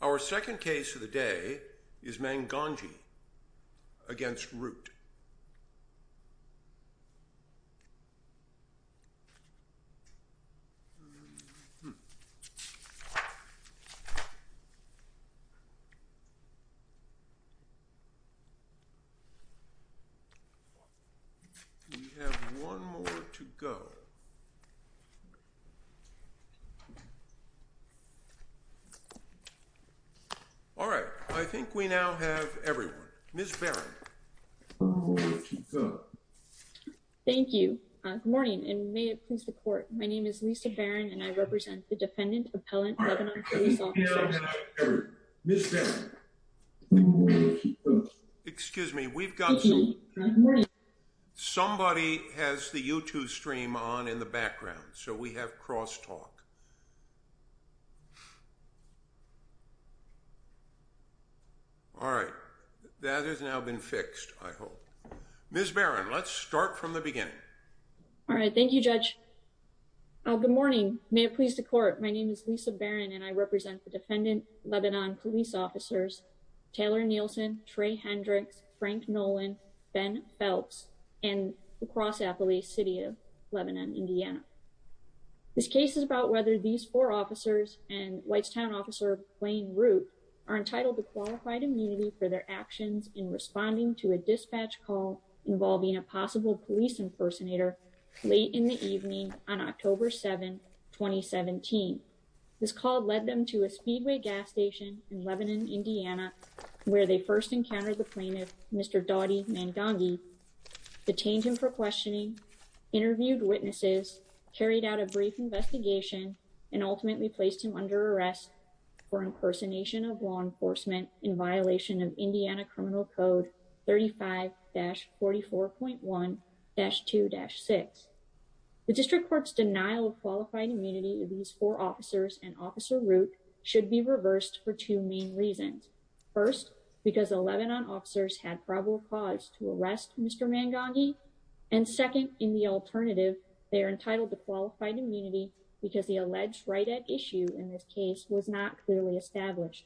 Our second case of the day is Mwangangi v. Root. We have one more to go. All right, I think we now have everyone. Ms. Barron. Thank you. Good morning and may it please report. My name is Lisa Barron and I represent the defendant appellant. Ms. Barron. Excuse me. We've got somebody has the YouTube stream on in the background. So we have cross talk. All right. That has now been fixed. I hope. Ms. Barron. Let's start from the beginning. All right. Thank you, judge. Good morning. May it please the court. My name is Lisa Barron and I represent the defendant, Lebanon police officers. Taylor Nielsen, Trey Hendricks, Frank Nolan, Ben Phelps, and the cross appellee city of Lebanon, Indiana. This case is about whether these four officers and Whitetown officer playing route are entitled to qualified immunity for their actions in responding to a dispatch call involving a possible police impersonator late in the evening on October 7, 2017. This call led them to a speedway gas station in Lebanon, Indiana, where they first encountered the plaintiff. Mr. Dottie man donkey detained him for questioning interviewed witnesses carried out a brief investigation and ultimately placed him under arrest for incarceration of law enforcement in violation of Indiana criminal code 35 dash 44.1 dash two dash six. The district courts denial of qualified immunity these four officers and officer route should be reversed for two main reasons. First, because 11 on officers had probable cause to arrest Mr man donkey. And second, in the alternative, they are entitled to qualified immunity, because the alleged right at issue in this case was not clearly established.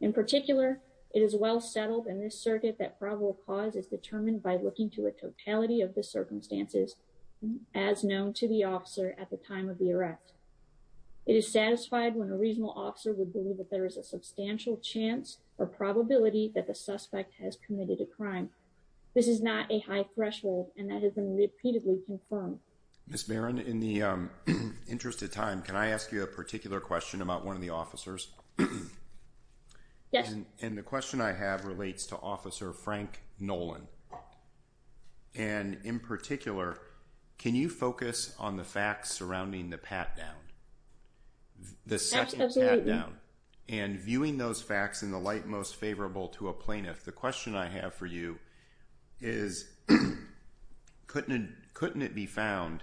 In particular, it is well settled in this circuit that probable cause is determined by looking to a totality of the circumstances, as known to the officer at the time of the arrest. It is satisfied when a reasonable officer would believe that there is a substantial chance or probability that the suspect has committed a crime. This is not a high threshold, and that has been repeatedly confirmed. Miss Baron in the interest of time, can I ask you a particular question about one of the officers. Yes. And the question I have relates to Officer Frank Nolan. And in particular, can you focus on the facts surrounding the pat down. The second down and viewing those facts in the light most favorable to a plaintiff. The question I have for you is. Couldn't couldn't it be found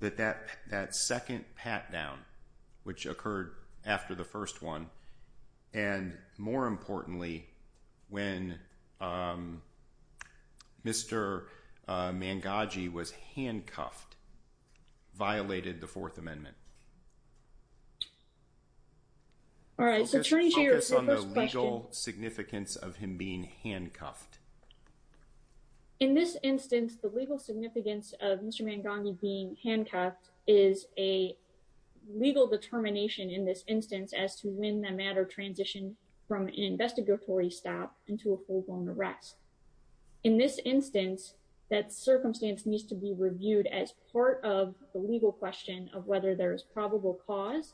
that that that second pat down, which occurred after the first one. And more importantly, when Mr. Mangaji was handcuffed, violated the Fourth Amendment. All right, so the legal significance of him being handcuffed. In this instance, the legal significance of Mr. Mangaji being handcuffed is a legal determination in this instance as to when the matter transition from an investigatory stop into a full blown arrest. In this instance, that circumstance needs to be reviewed as part of the legal question of whether there is probable cause.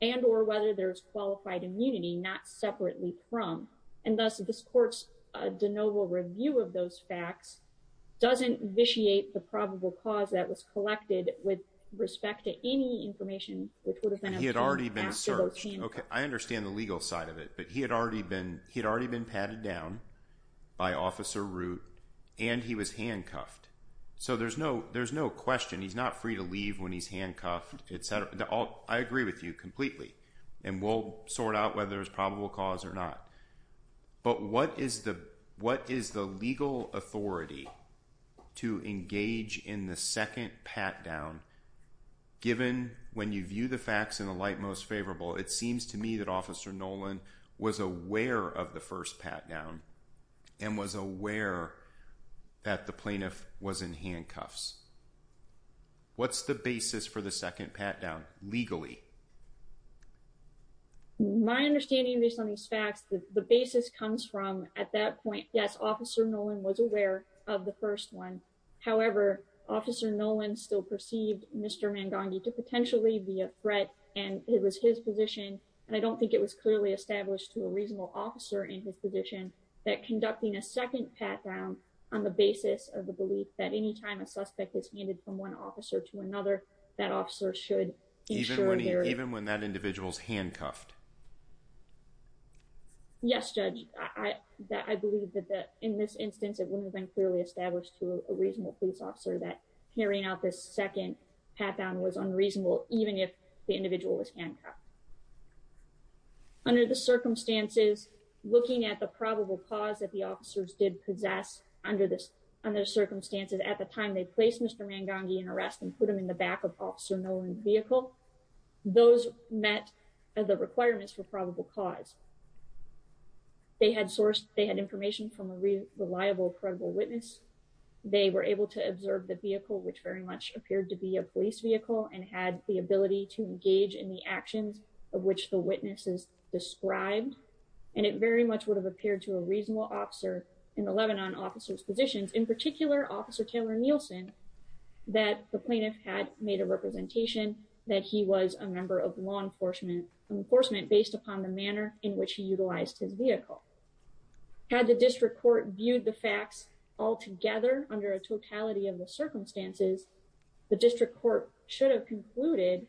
And or whether there is qualified immunity, not separately from. And thus, this court's de novo review of those facts doesn't vitiate the probable cause that was collected with respect to any information. Which would have been he had already been searched. OK, I understand the legal side of it, but he had already been he had already been patted down by Officer Root and he was handcuffed. So there's no there's no question he's not free to leave when he's handcuffed, etc. I agree with you completely and we'll sort out whether it's probable cause or not. But what is the what is the legal authority to engage in the second pat down? Given when you view the facts in the light most favorable, it seems to me that Officer Nolan was aware of the first pat down and was aware that the plaintiff was in handcuffs. What's the basis for the second pat down legally? My understanding, based on these facts, the basis comes from at that point, yes, Officer Nolan was aware of the first one. However, Officer Nolan still perceived Mr. Mangangi to potentially be a threat. And it was his position. And I don't think it was clearly established to a reasonable officer in his position that conducting a second pat down on the basis of the belief that any time a suspect is handed from one officer to another, that officer should even when that individual is handcuffed. Yes, Judge, I believe that in this instance, it wouldn't have been clearly established to a reasonable police officer that carrying out this second pat down was unreasonable, even if the individual was handcuffed. Under the circumstances, looking at the probable cause that the officers did possess under this under circumstances at the time they placed Mr. Mangangi in arrest and put him in the back of Officer Nolan's vehicle. Those met the requirements for probable cause. They had sourced, they had information from a reliable, credible witness. They were able to observe the vehicle, which very much appeared to be a police vehicle and had the ability to engage in the actions of which the witnesses described. And it very much would have appeared to a reasonable officer in the Lebanon officers positions, in particular, Officer Taylor Nielsen, that the plaintiff had made a representation that he was a member of law enforcement based upon the manner in which he utilized his vehicle. Had the district court viewed the facts altogether under a totality of the circumstances, the district court should have concluded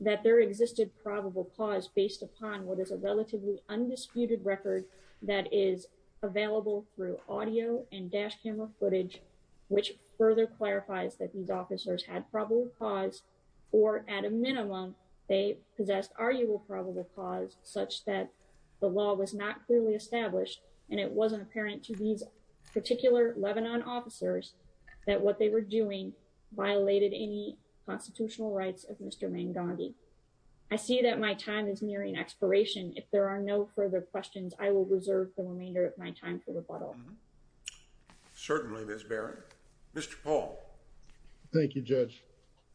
that there existed probable cause based upon what is a relatively undisputed record that is available through audio and dash And it wasn't apparent to these particular Lebanon officers that what they were doing violated any constitutional rights of Mr. Mangangi. I see that my time is nearing expiration. If there are no further questions, I will reserve the remainder of my time for rebuttal. Certainly, Miss Barrett. Mr. Paul. Thank you, Judge.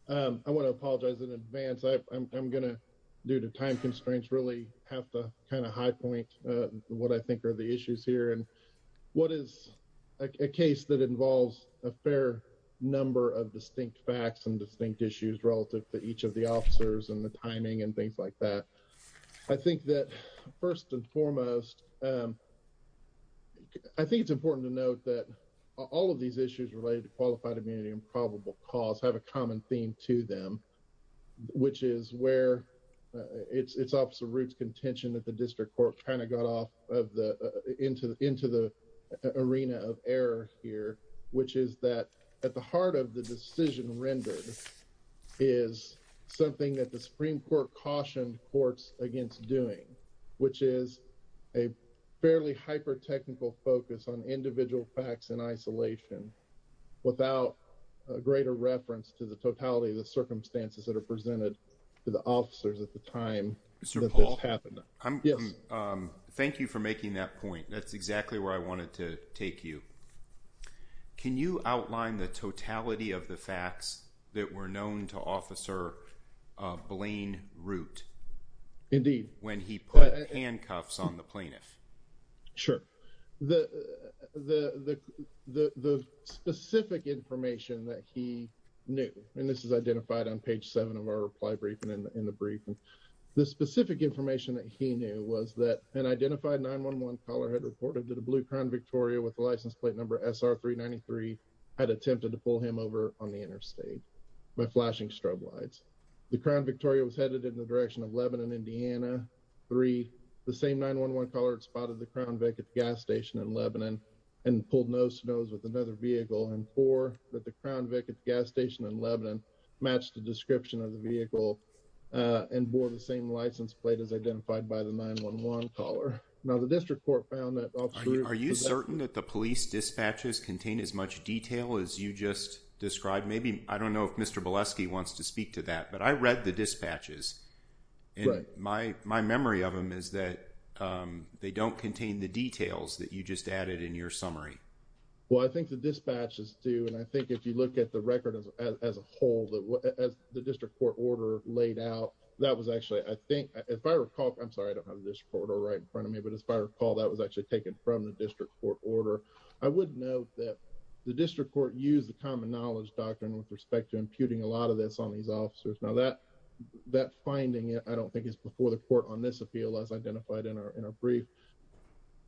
I want to apologize in advance. I'm going to due to time constraints really have to kind of high point what I think are the issues here. And what is a case that involves a fair number of distinct facts and distinct issues relative to each of the officers and the timing and things like that. I think that first and foremost, I think it's important to note that all of these issues related to qualified immunity and probable cause have a common theme to them. Which is where it's absolute contention that the district court kind of got off of the into into the arena of error here, which is that at the heart of the decision rendered. Is something that the Supreme Court caution courts against doing, which is a fairly hyper technical focus on individual facts in isolation without a greater reference to the totality of the circumstances that are presented to the officers at the time. Mr. Paul, thank you for making that point. That's exactly where I wanted to take you. Can you outline the totality of the facts that were known to officer Blaine Root? Indeed, when he put handcuffs on the plaintiff. Sure, the specific information that he knew, and this is identified on page 7 of our reply briefing in the briefing. The specific information that he knew was that an identified 911 caller had reported that a blue Crown Victoria with the license plate number SR 393 had attempted to pull him over on the interstate by flashing strobe lights. The Crown Victoria was headed in the direction of Lebanon, Indiana 3, the same 911 caller spotted the Crown vacant gas station in Lebanon and pulled nose to nose with another vehicle and for that. The Crown vacant gas station in Lebanon matched the description of the vehicle and bore the same license plate as identified by the 911 caller. Are you certain that the police dispatches contain as much detail as you just described? Maybe I don't know if Mr. Bolesky wants to speak to that, but I read the dispatches. My memory of them is that they don't contain the details that you just added in your summary. Well, I think the dispatches do, and I think if you look at the record as a whole, as the district court order laid out, that was actually, I think, if I recall, I'm sorry, I don't have this photo right in front of me, but if I recall, that was actually taken from the district court order. I wouldn't know that the district court used the common knowledge doctrine with respect to imputing a lot of this on these officers. Now that that finding it. I don't think it's before the court on this appeal as identified in our brief.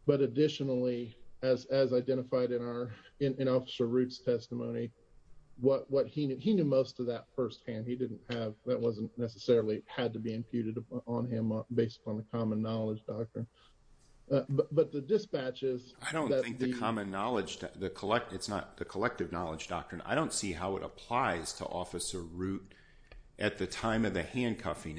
But additionally, as as identified in our in officer roots testimony, what what he knew, he knew most of that firsthand, he didn't have that wasn't necessarily had to be imputed on him based on the common knowledge doctrine. But the dispatches, I don't think the common knowledge, the collect, it's not the collective knowledge doctrine. I don't see how it applies to officer root at the time of the handcuffing.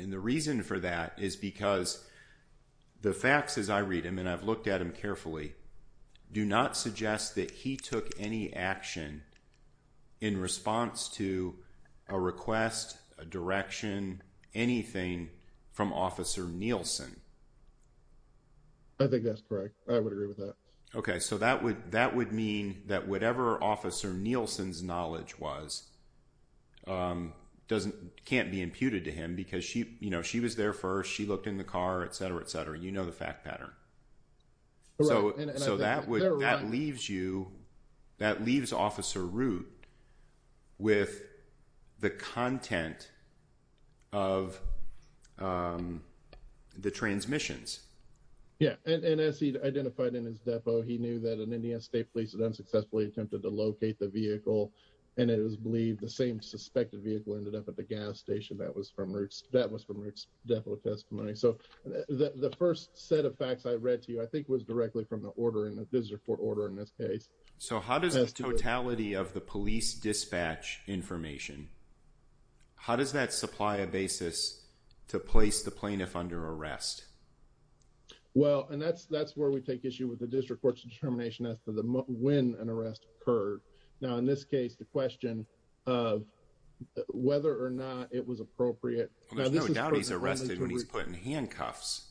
I think that's correct. I would agree with that. Okay. So that would, that would mean that whatever officer Nielsen's knowledge was doesn't can't be imputed to him because she, because she didn't have that common knowledge. You know, she was there first. She looked in the car, et cetera, et cetera. You know, the fact pattern. So, so that would, that leaves you, that leaves officer root with the content of the transmissions. Yeah, and as he identified in his depot, he knew that an Indian state police had unsuccessfully attempted to locate the vehicle. And it was believed the same suspected vehicle ended up at the gas station. That was from roots. That was from depth of testimony. So the 1st set of facts I read to you, I think, was directly from the order in the visitor court order in this case. So, how does the totality of the police dispatch information, how does that supply a basis to place the plaintiff under arrest? Well, and that's, that's where we take issue with the district court's determination as to the when an arrest occurred. Now, in this case, the question of whether or not it was appropriate. Now, there's no doubt he's arrested when he's putting handcuffs.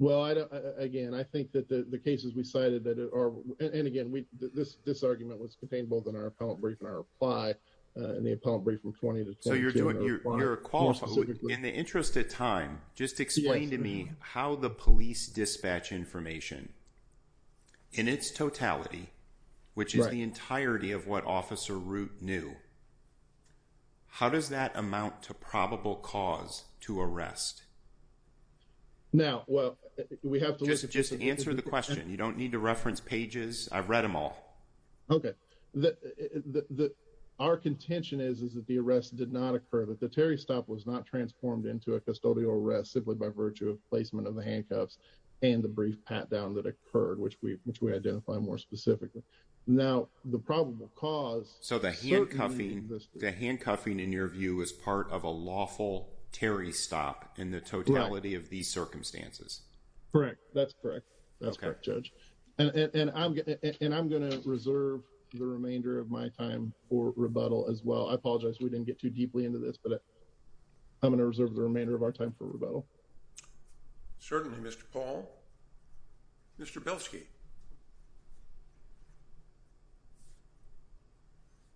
Well, I, again, I think that the cases we cited that are, and again, we, this, this argument was contained both in our appellate brief and our apply in the appellate brief from 20 to. In the interest of time, just explain to me how the police dispatch information. In its totality, which is the entirety of what officer route new. How does that amount to probable cause to arrest? Now, well, we have to just answer the question. You don't need to reference pages. I've read them all. Okay, the, the, our contention is, is that the arrest did not occur that the Terry stop was not transformed into a custodial arrest simply by virtue of placement of the handcuffs and the brief pat down that occurred, which we, which we identify more specifically. Now, the probable cause, so the handcuffing, the handcuffing in your view is part of a lawful Terry stop in the totality of these circumstances. Correct. That's correct. That's correct. Judge. And I'm going to, and I'm going to reserve the remainder of my time for rebuttal as well. I apologize. We didn't get too deeply into this, but I'm going to reserve the remainder of our time for rebuttal. Certainly. Mr. Paul. Mr. Belsky.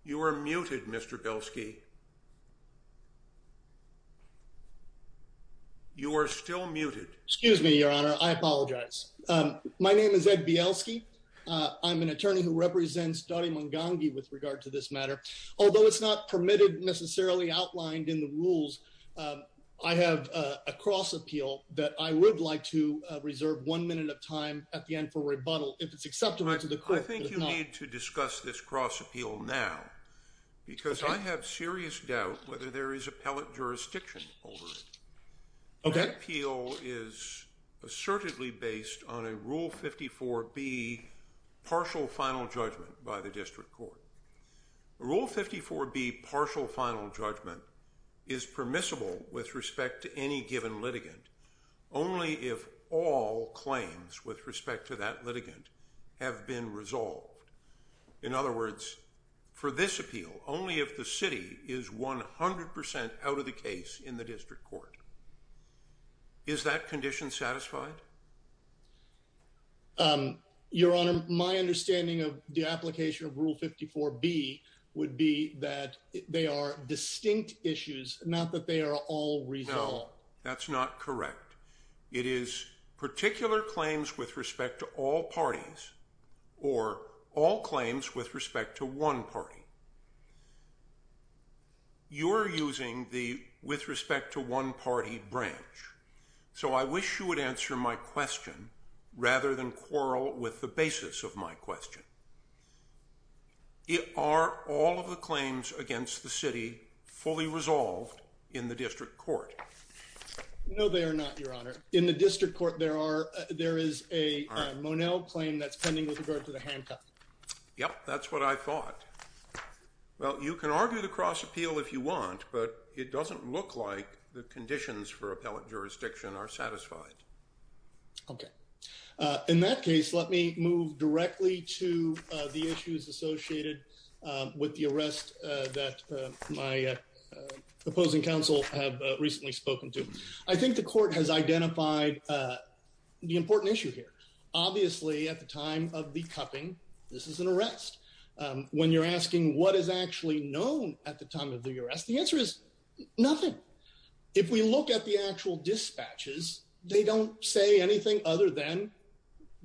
You are muted. Mr. Belsky. You are still muted. Excuse me, Your Honor. I apologize. My name is Ed Bielski. I'm an attorney who represents Dottie Mungangi with regard to this matter, although it's not permitted necessarily outlined in the rules. I have a cross appeal that I would like to reserve one minute of time at the end for rebuttal if it's acceptable to the court. I think you need to discuss this cross appeal now. Because I have serious doubt whether there is appellate jurisdiction over it. That appeal is assertively based on a Rule 54B partial final judgment by the district court. Rule 54B partial final judgment is permissible with respect to any given litigant only if all claims with respect to that litigant have been resolved. In other words, for this appeal, only if the city is 100% out of the case in the district court. Is that condition satisfied? Your Honor, my understanding of the application of Rule 54B would be that they are distinct issues, not that they are all resolved. No, that's not correct. It is particular claims with respect to all parties or all claims with respect to one party. You're using the with respect to one party branch, so I wish you would answer my question rather than quarrel with the basis of my question. Are all of the claims against the city fully resolved in the district court? No, they are not, Your Honor. In the district court, there is a Monell claim that's pending with regard to the handcuffs. Yep, that's what I thought. Well, you can argue the cross appeal if you want, but it doesn't look like the conditions for appellate jurisdiction are satisfied. Okay. In that case, let me move directly to the issues associated with the arrest that my opposing counsel have recently spoken to. I think the court has identified the important issue here. Obviously, at the time of the cuffing, this is an arrest. When you're asking what is actually known at the time of the arrest, the answer is nothing. If we look at the actual dispatches, they don't say anything other than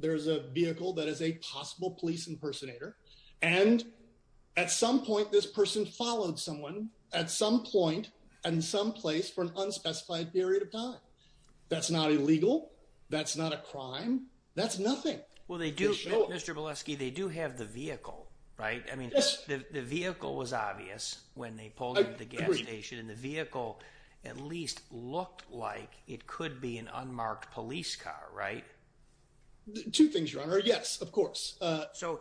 there's a vehicle that is a possible police impersonator. And at some point, this person followed someone at some point and some place for an unspecified period of time. That's not illegal. That's not a crime. That's nothing. Mr. Boleski, they do have the vehicle, right? I mean, the vehicle was obvious when they pulled into the gas station, and the vehicle at least looked like it could be an unmarked police car, right? Two things, Your Honor. Yes, of course. So,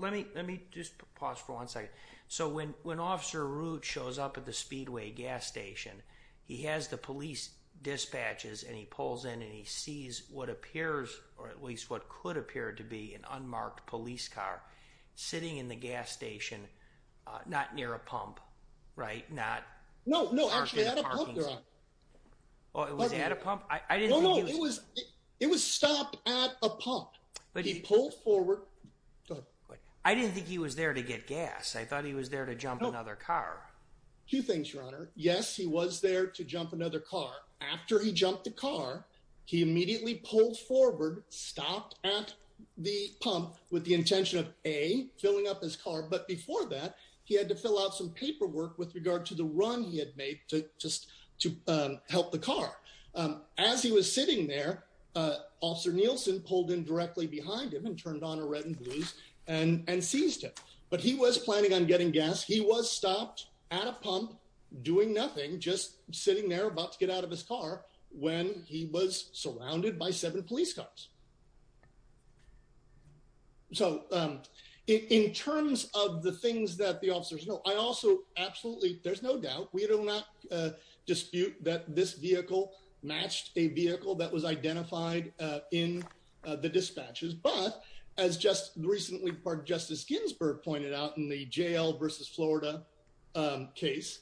let me just pause for one second. So, when Officer Root shows up at the Speedway gas station, he has the police dispatches, and he pulls in, and he sees what appears, or at least what could appear to be, an unmarked police car sitting in the gas station, not near a pump, right? No, actually at a pump, Your Honor. It was stopped at a pump. He pulled forward. I didn't think he was there to get gas. I thought he was there to jump another car. Two things, Your Honor. Yes, he was there to jump another car. After he jumped the car, he immediately pulled forward, stopped at the pump with the intention of, A, filling up his car, but before that, he had to fill out some paperwork with regard to the run he had made to help the car. As he was sitting there, Officer Nielsen pulled in directly behind him and turned on a red and blues and seized him, but he was planning on getting gas. He was stopped at a pump, doing nothing, just sitting there about to get out of his car when he was surrounded by seven police cars. So, in terms of the things that the officers know, I also absolutely, there's no doubt, we do not dispute that this vehicle matched a vehicle that was identified in the dispatches. But, as just recently, Justice Ginsburg pointed out in the jail versus Florida case,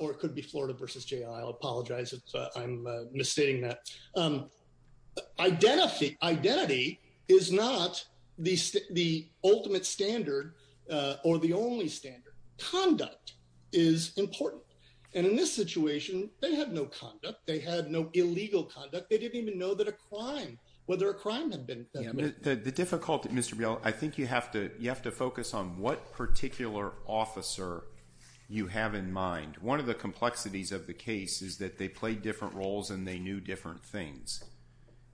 or it could be Florida versus jail, I'll apologize if I'm misstating that, identity is not the ultimate standard or the only standard. Conduct is important, and in this situation, they had no conduct. They had no illegal conduct. They didn't even know that a crime, whether a crime had been committed. The difficulty, Mr. Biel, I think you have to focus on what particular officer you have in mind. One of the complexities of the case is that they played different roles and they knew different things.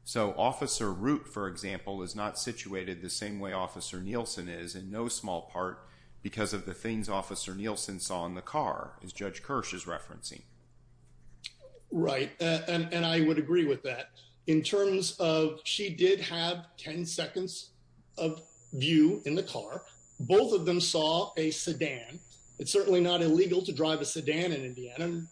So, Officer Root, for example, is not situated the same way Officer Nielsen is in no small part because of the things Officer Nielsen saw in the car, as Judge Kirsch is referencing. Right, and I would agree with that. In terms of, she did have 10 seconds of view in the car. Both of them saw a sedan. It's certainly not illegal to drive a sedan in Indiana,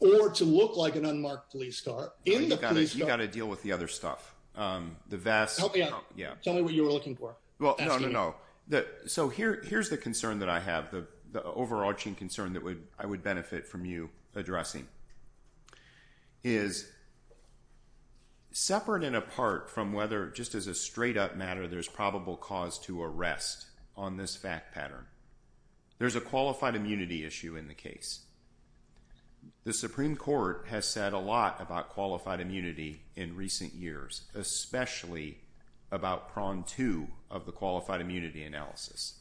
or to look like an unmarked police car in the police car. You got to deal with the other stuff. Help me out. Tell me what you were looking for. No, no, no. So, here's the concern that I have, the overarching concern that I would benefit from you addressing, is separate and apart from whether, just as a straight up matter, there's probable cause to arrest on this fact pattern. There's a qualified immunity issue in the case. The Supreme Court has said a lot about qualified immunity in recent years, especially about prong two of the qualified immunity analysis.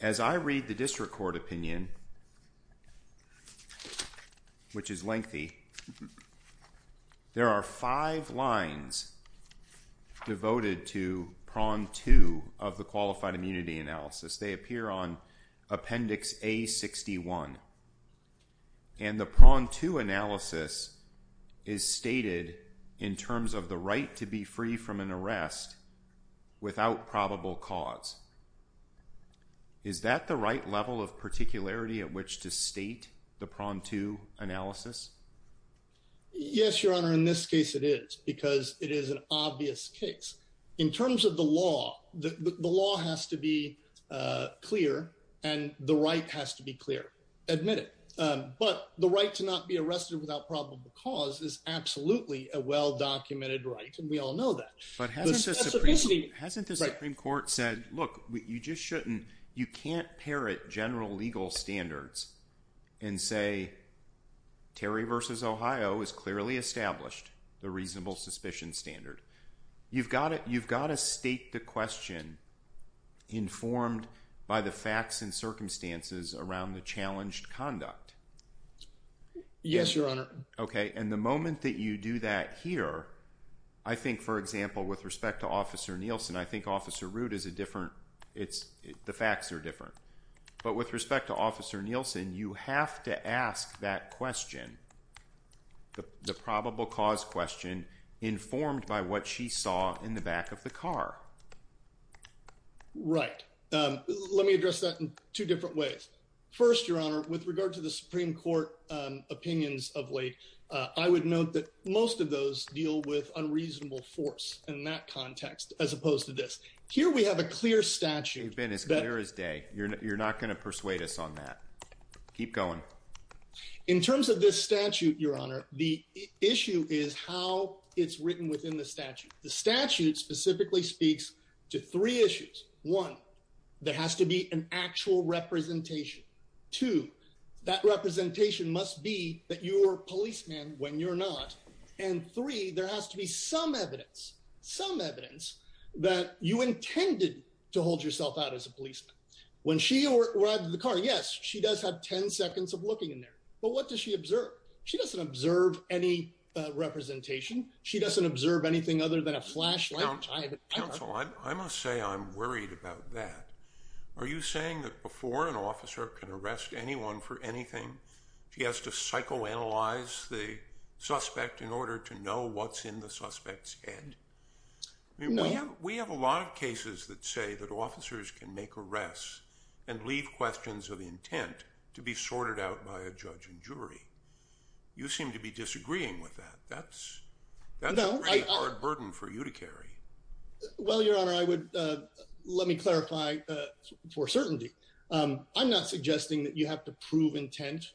As I read the district court opinion, which is lengthy, there are five lines devoted to prong two of the qualified immunity analysis. They appear on appendix A61. And the prong two analysis is stated in terms of the right to be free from an arrest without probable cause. Is that the right level of particularity at which to state the prong two analysis? Yes, Your Honor, in this case it is, because it is an obvious case. In terms of the law, the law has to be clear, and the right has to be clear. Admit it. But the right to not be arrested without probable cause is absolutely a well documented right, and we all know that. But hasn't the Supreme Court said, look, you just shouldn't, you can't parrot general legal standards and say, Terry versus Ohio is clearly established, the reasonable suspicion standard. You've got to state the question informed by the facts and circumstances around the challenged conduct. Yes, Your Honor. Okay, and the moment that you do that here, I think, for example, with respect to Officer Nielsen, I think Officer Root is a different, the facts are different. But with respect to Officer Nielsen, you have to ask that question, the probable cause question, informed by what she saw in the back of the car. Right. Let me address that in two different ways. First, Your Honor, with regard to the Supreme Court opinions of late, I would note that most of those deal with unreasonable force in that context, as opposed to this. Here we have a clear statute. You've been as clear as day. You're not going to persuade us on that. Keep going. In terms of this statute, Your Honor, the issue is how it's written within the statute. The statute specifically speaks to three issues. One, there has to be an actual representation. Two, that representation must be that you were a policeman when you're not. And three, there has to be some evidence, some evidence that you intended to hold yourself out as a policeman. When she arrived in the car, yes, she does have 10 seconds of looking in there. But what does she observe? She doesn't observe any representation. She doesn't observe anything other than a flashlight. Counsel, I must say I'm worried about that. Are you saying that before an officer can arrest anyone for anything, she has to psychoanalyze the suspect in order to know what's in the suspect's head? We have a lot of cases that say that officers can make arrests and leave questions of intent to be sorted out by a judge and jury. You seem to be disagreeing with that. That's a pretty hard burden for you to carry. Well, Your Honor, let me clarify for certainty. I'm not suggesting that you have to prove intent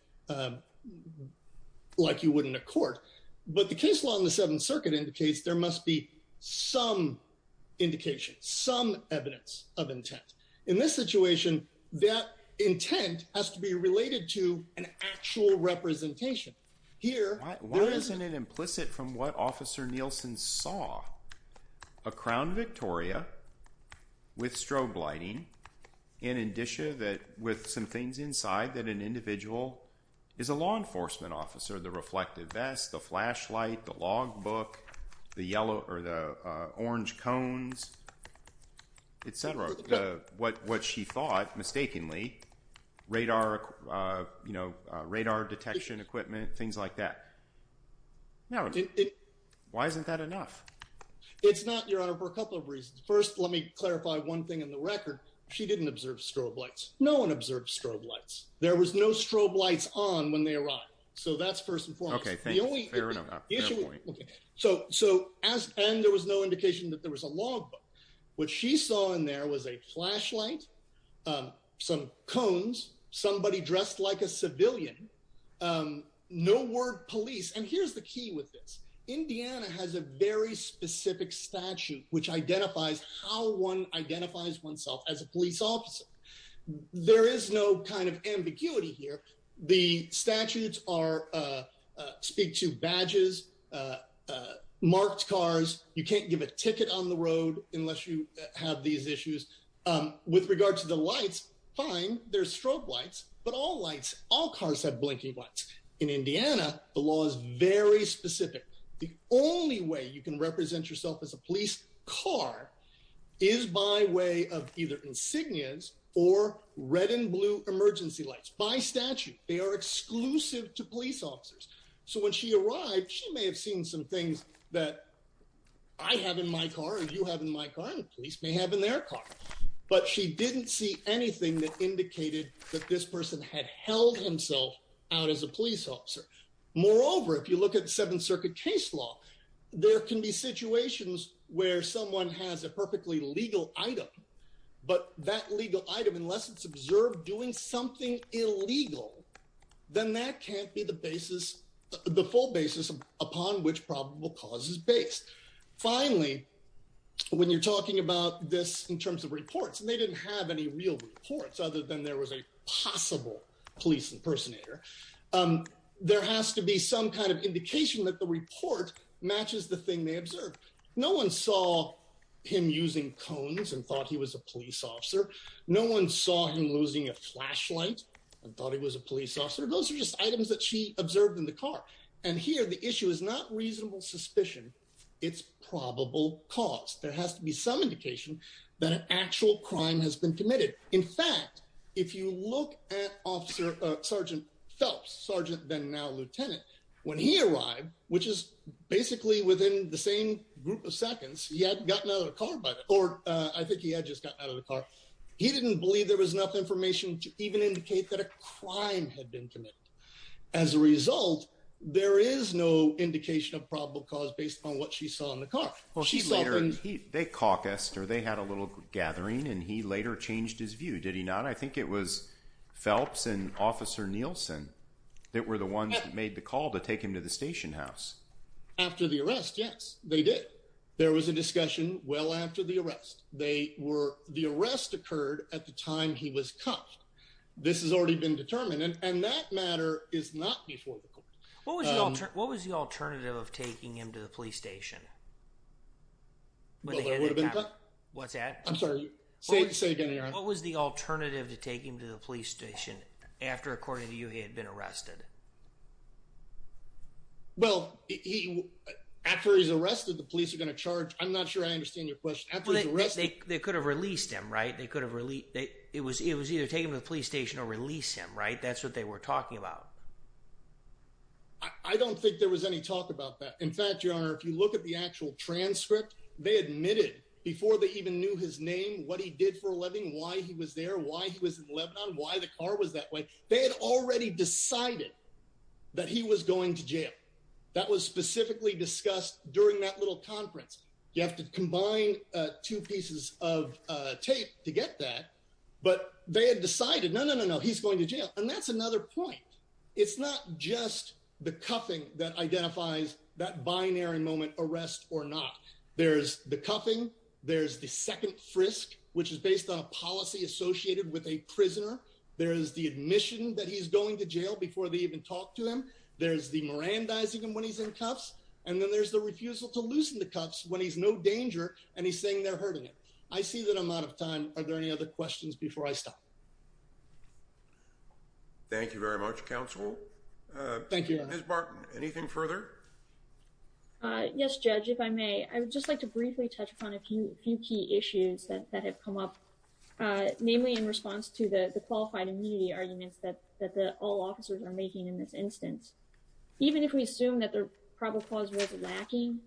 like you would in a court. But the case law in the Seventh Circuit indicates there must be some indication, some evidence of intent. In this situation, that intent has to be related to an actual representation. Why isn't it implicit from what Officer Nielsen saw? A crown Victoria with strobe lighting, in addition with some things inside that an individual is a law enforcement officer. The reflective vest, the flashlight, the log book, the orange cones, etc. What she thought, mistakenly, radar detection equipment, things like that. Why isn't that enough? It's not, Your Honor, for a couple of reasons. First, let me clarify one thing in the record. She didn't observe strobe lights. No one observed strobe lights. There was no strobe lights on when they arrived. So that's first and foremost. Fair enough. Speak to badges, marked cars. You can't give a ticket on the road unless you have these issues. With regard to the lights, fine, there's strobe lights. But all lights, all cars have blinking lights. In Indiana, the law is very specific. The only way you can represent yourself as a police car is by way of either insignias or red and blue emergency lights. By statute, they are exclusive to police officers. So when she arrived, she may have seen some things that I have in my car, you have in my car, and the police may have in their car. But she didn't see anything that indicated that this person had held himself out as a police officer. Moreover, if you look at Seventh Circuit case law, there can be situations where someone has a perfectly legal item. But that legal item, unless it's observed doing something illegal, then that can't be the basis, the full basis upon which probable cause is based. Finally, when you're talking about this in terms of reports, and they didn't have any real reports other than there was a possible police impersonator, there has to be some kind of indication that the report matches the thing they observed. No one saw him using cones and thought he was a police officer. No one saw him losing a flashlight and thought he was a police officer. Those are just items that she observed in the car. And here the issue is not reasonable suspicion, it's probable cause. There has to be some indication that an actual crime has been committed. In fact, if you look at Sergeant Phelps, Sergeant then now Lieutenant, when he arrived, which is basically within the same group of seconds, he had gotten out of the car, or I think he had just gotten out of the car, he didn't believe there was enough information to even indicate that a crime had been committed. As a result, there is no indication of probable cause based on what she saw in the car. Well, they caucused, or they had a little gathering, and he later changed his view, did he not? I think it was Phelps and Officer Nielsen that were the ones that made the call to take him to the station house. After the arrest, yes, they did. There was a discussion well after the arrest. The arrest occurred at the time he was cuffed. This has already been determined, and that matter is not before the court. What was the alternative of taking him to the police station? Well, there would have been... What's that? I'm sorry, say it again, Aaron. What was the alternative to taking him to the police station after, according to you, he had been arrested? Well, after he's arrested, the police are going to charge... I'm not sure I understand your question. They could have released him, right? It was either take him to the police station or release him, right? That's what they were talking about. I don't think there was any talk about that. In fact, Your Honor, if you look at the actual transcript, they admitted before they even knew his name, what he did for a living, why he was there, why he was in Lebanon, why the car was that way. They had already decided that he was going to jail. That was specifically discussed during that little conference. You have to combine two pieces of tape to get that. But they had decided, no, no, no, no, he's going to jail. And that's another point. It's not just the cuffing that identifies that binary moment, arrest or not. There's the cuffing. There's the second frisk, which is based on a policy associated with a prisoner. There is the admission that he's going to jail before they even talk to him. There's the merandizing him when he's in cuffs. And then there's the refusal to loosen the cuffs when he's no danger and he's saying they're hurting him. I see that I'm out of time. Are there any other questions before I stop? Thank you very much, counsel. Thank you. Anything further? Yes, Judge, if I may, I would just like to briefly touch upon a few key issues that have come up, namely in response to the qualified immunity arguments that all officers are making in this instance. Even if we assume that the probable cause was lacking,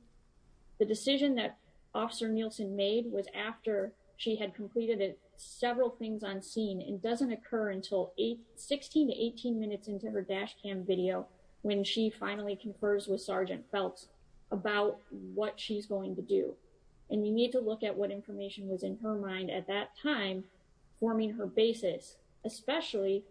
the decision that Officer Nielsen made was after she had completed several things on scene and doesn't occur until 16 to 18 minutes into her dash cam video when she finally confers with Sergeant Phelps about what she's going to do. And you need to look at what information was in her mind at that time, forming her basis, especially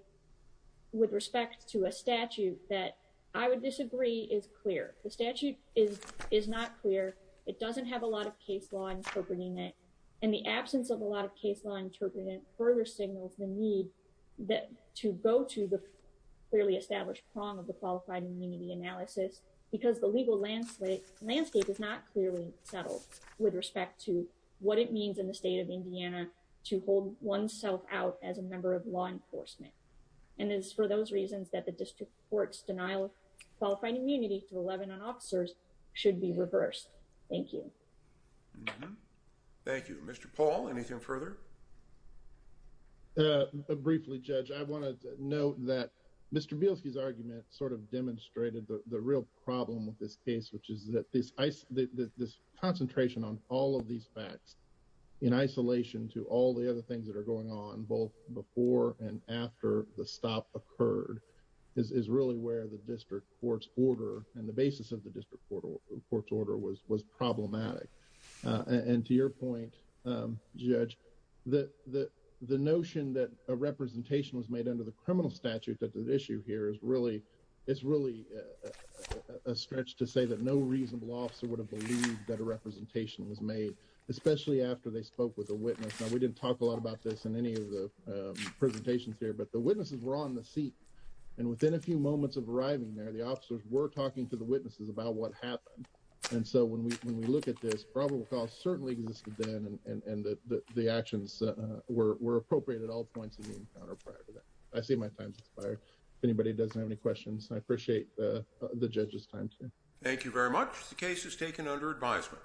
with respect to a statute that I would disagree is clear. The statute is not clear. It doesn't have a lot of case law interpreting it. And the absence of a lot of case law interpreting it further signals the need to go to the clearly established prong of the qualified immunity analysis because the legal landscape is not clearly settled with respect to what it means in the state of Indiana to hold oneself out as a member of law enforcement. And it's for those reasons that the district court's denial of qualified immunity to 11 officers should be reversed. Thank you. Thank you, Mr. Paul. Anything further? Briefly, Judge, I want to note that Mr. Bielski's argument sort of demonstrated the real problem with this case, which is that this concentration on all of these facts in isolation to all the other things that are going on both before and after the stop occurred is really where the district court's order and the basis of the district court's order was problematic. And to your point, Judge, that the notion that a representation was made under the criminal statute that the issue here is really it's really a stretch to say that no reasonable officer would have believed that a representation was made, especially after they spoke with a witness. Now, we didn't talk a lot about this in any of the presentations here, but the witnesses were on the seat and within a few moments of arriving there, the officers were talking to the witnesses about what happened. And so when we when we look at this probable cause certainly existed then and the actions were appropriate at all points of the encounter prior to that. I see my time expired. If anybody doesn't have any questions, I appreciate the judge's time. Thank you very much. The case is taken under advisement.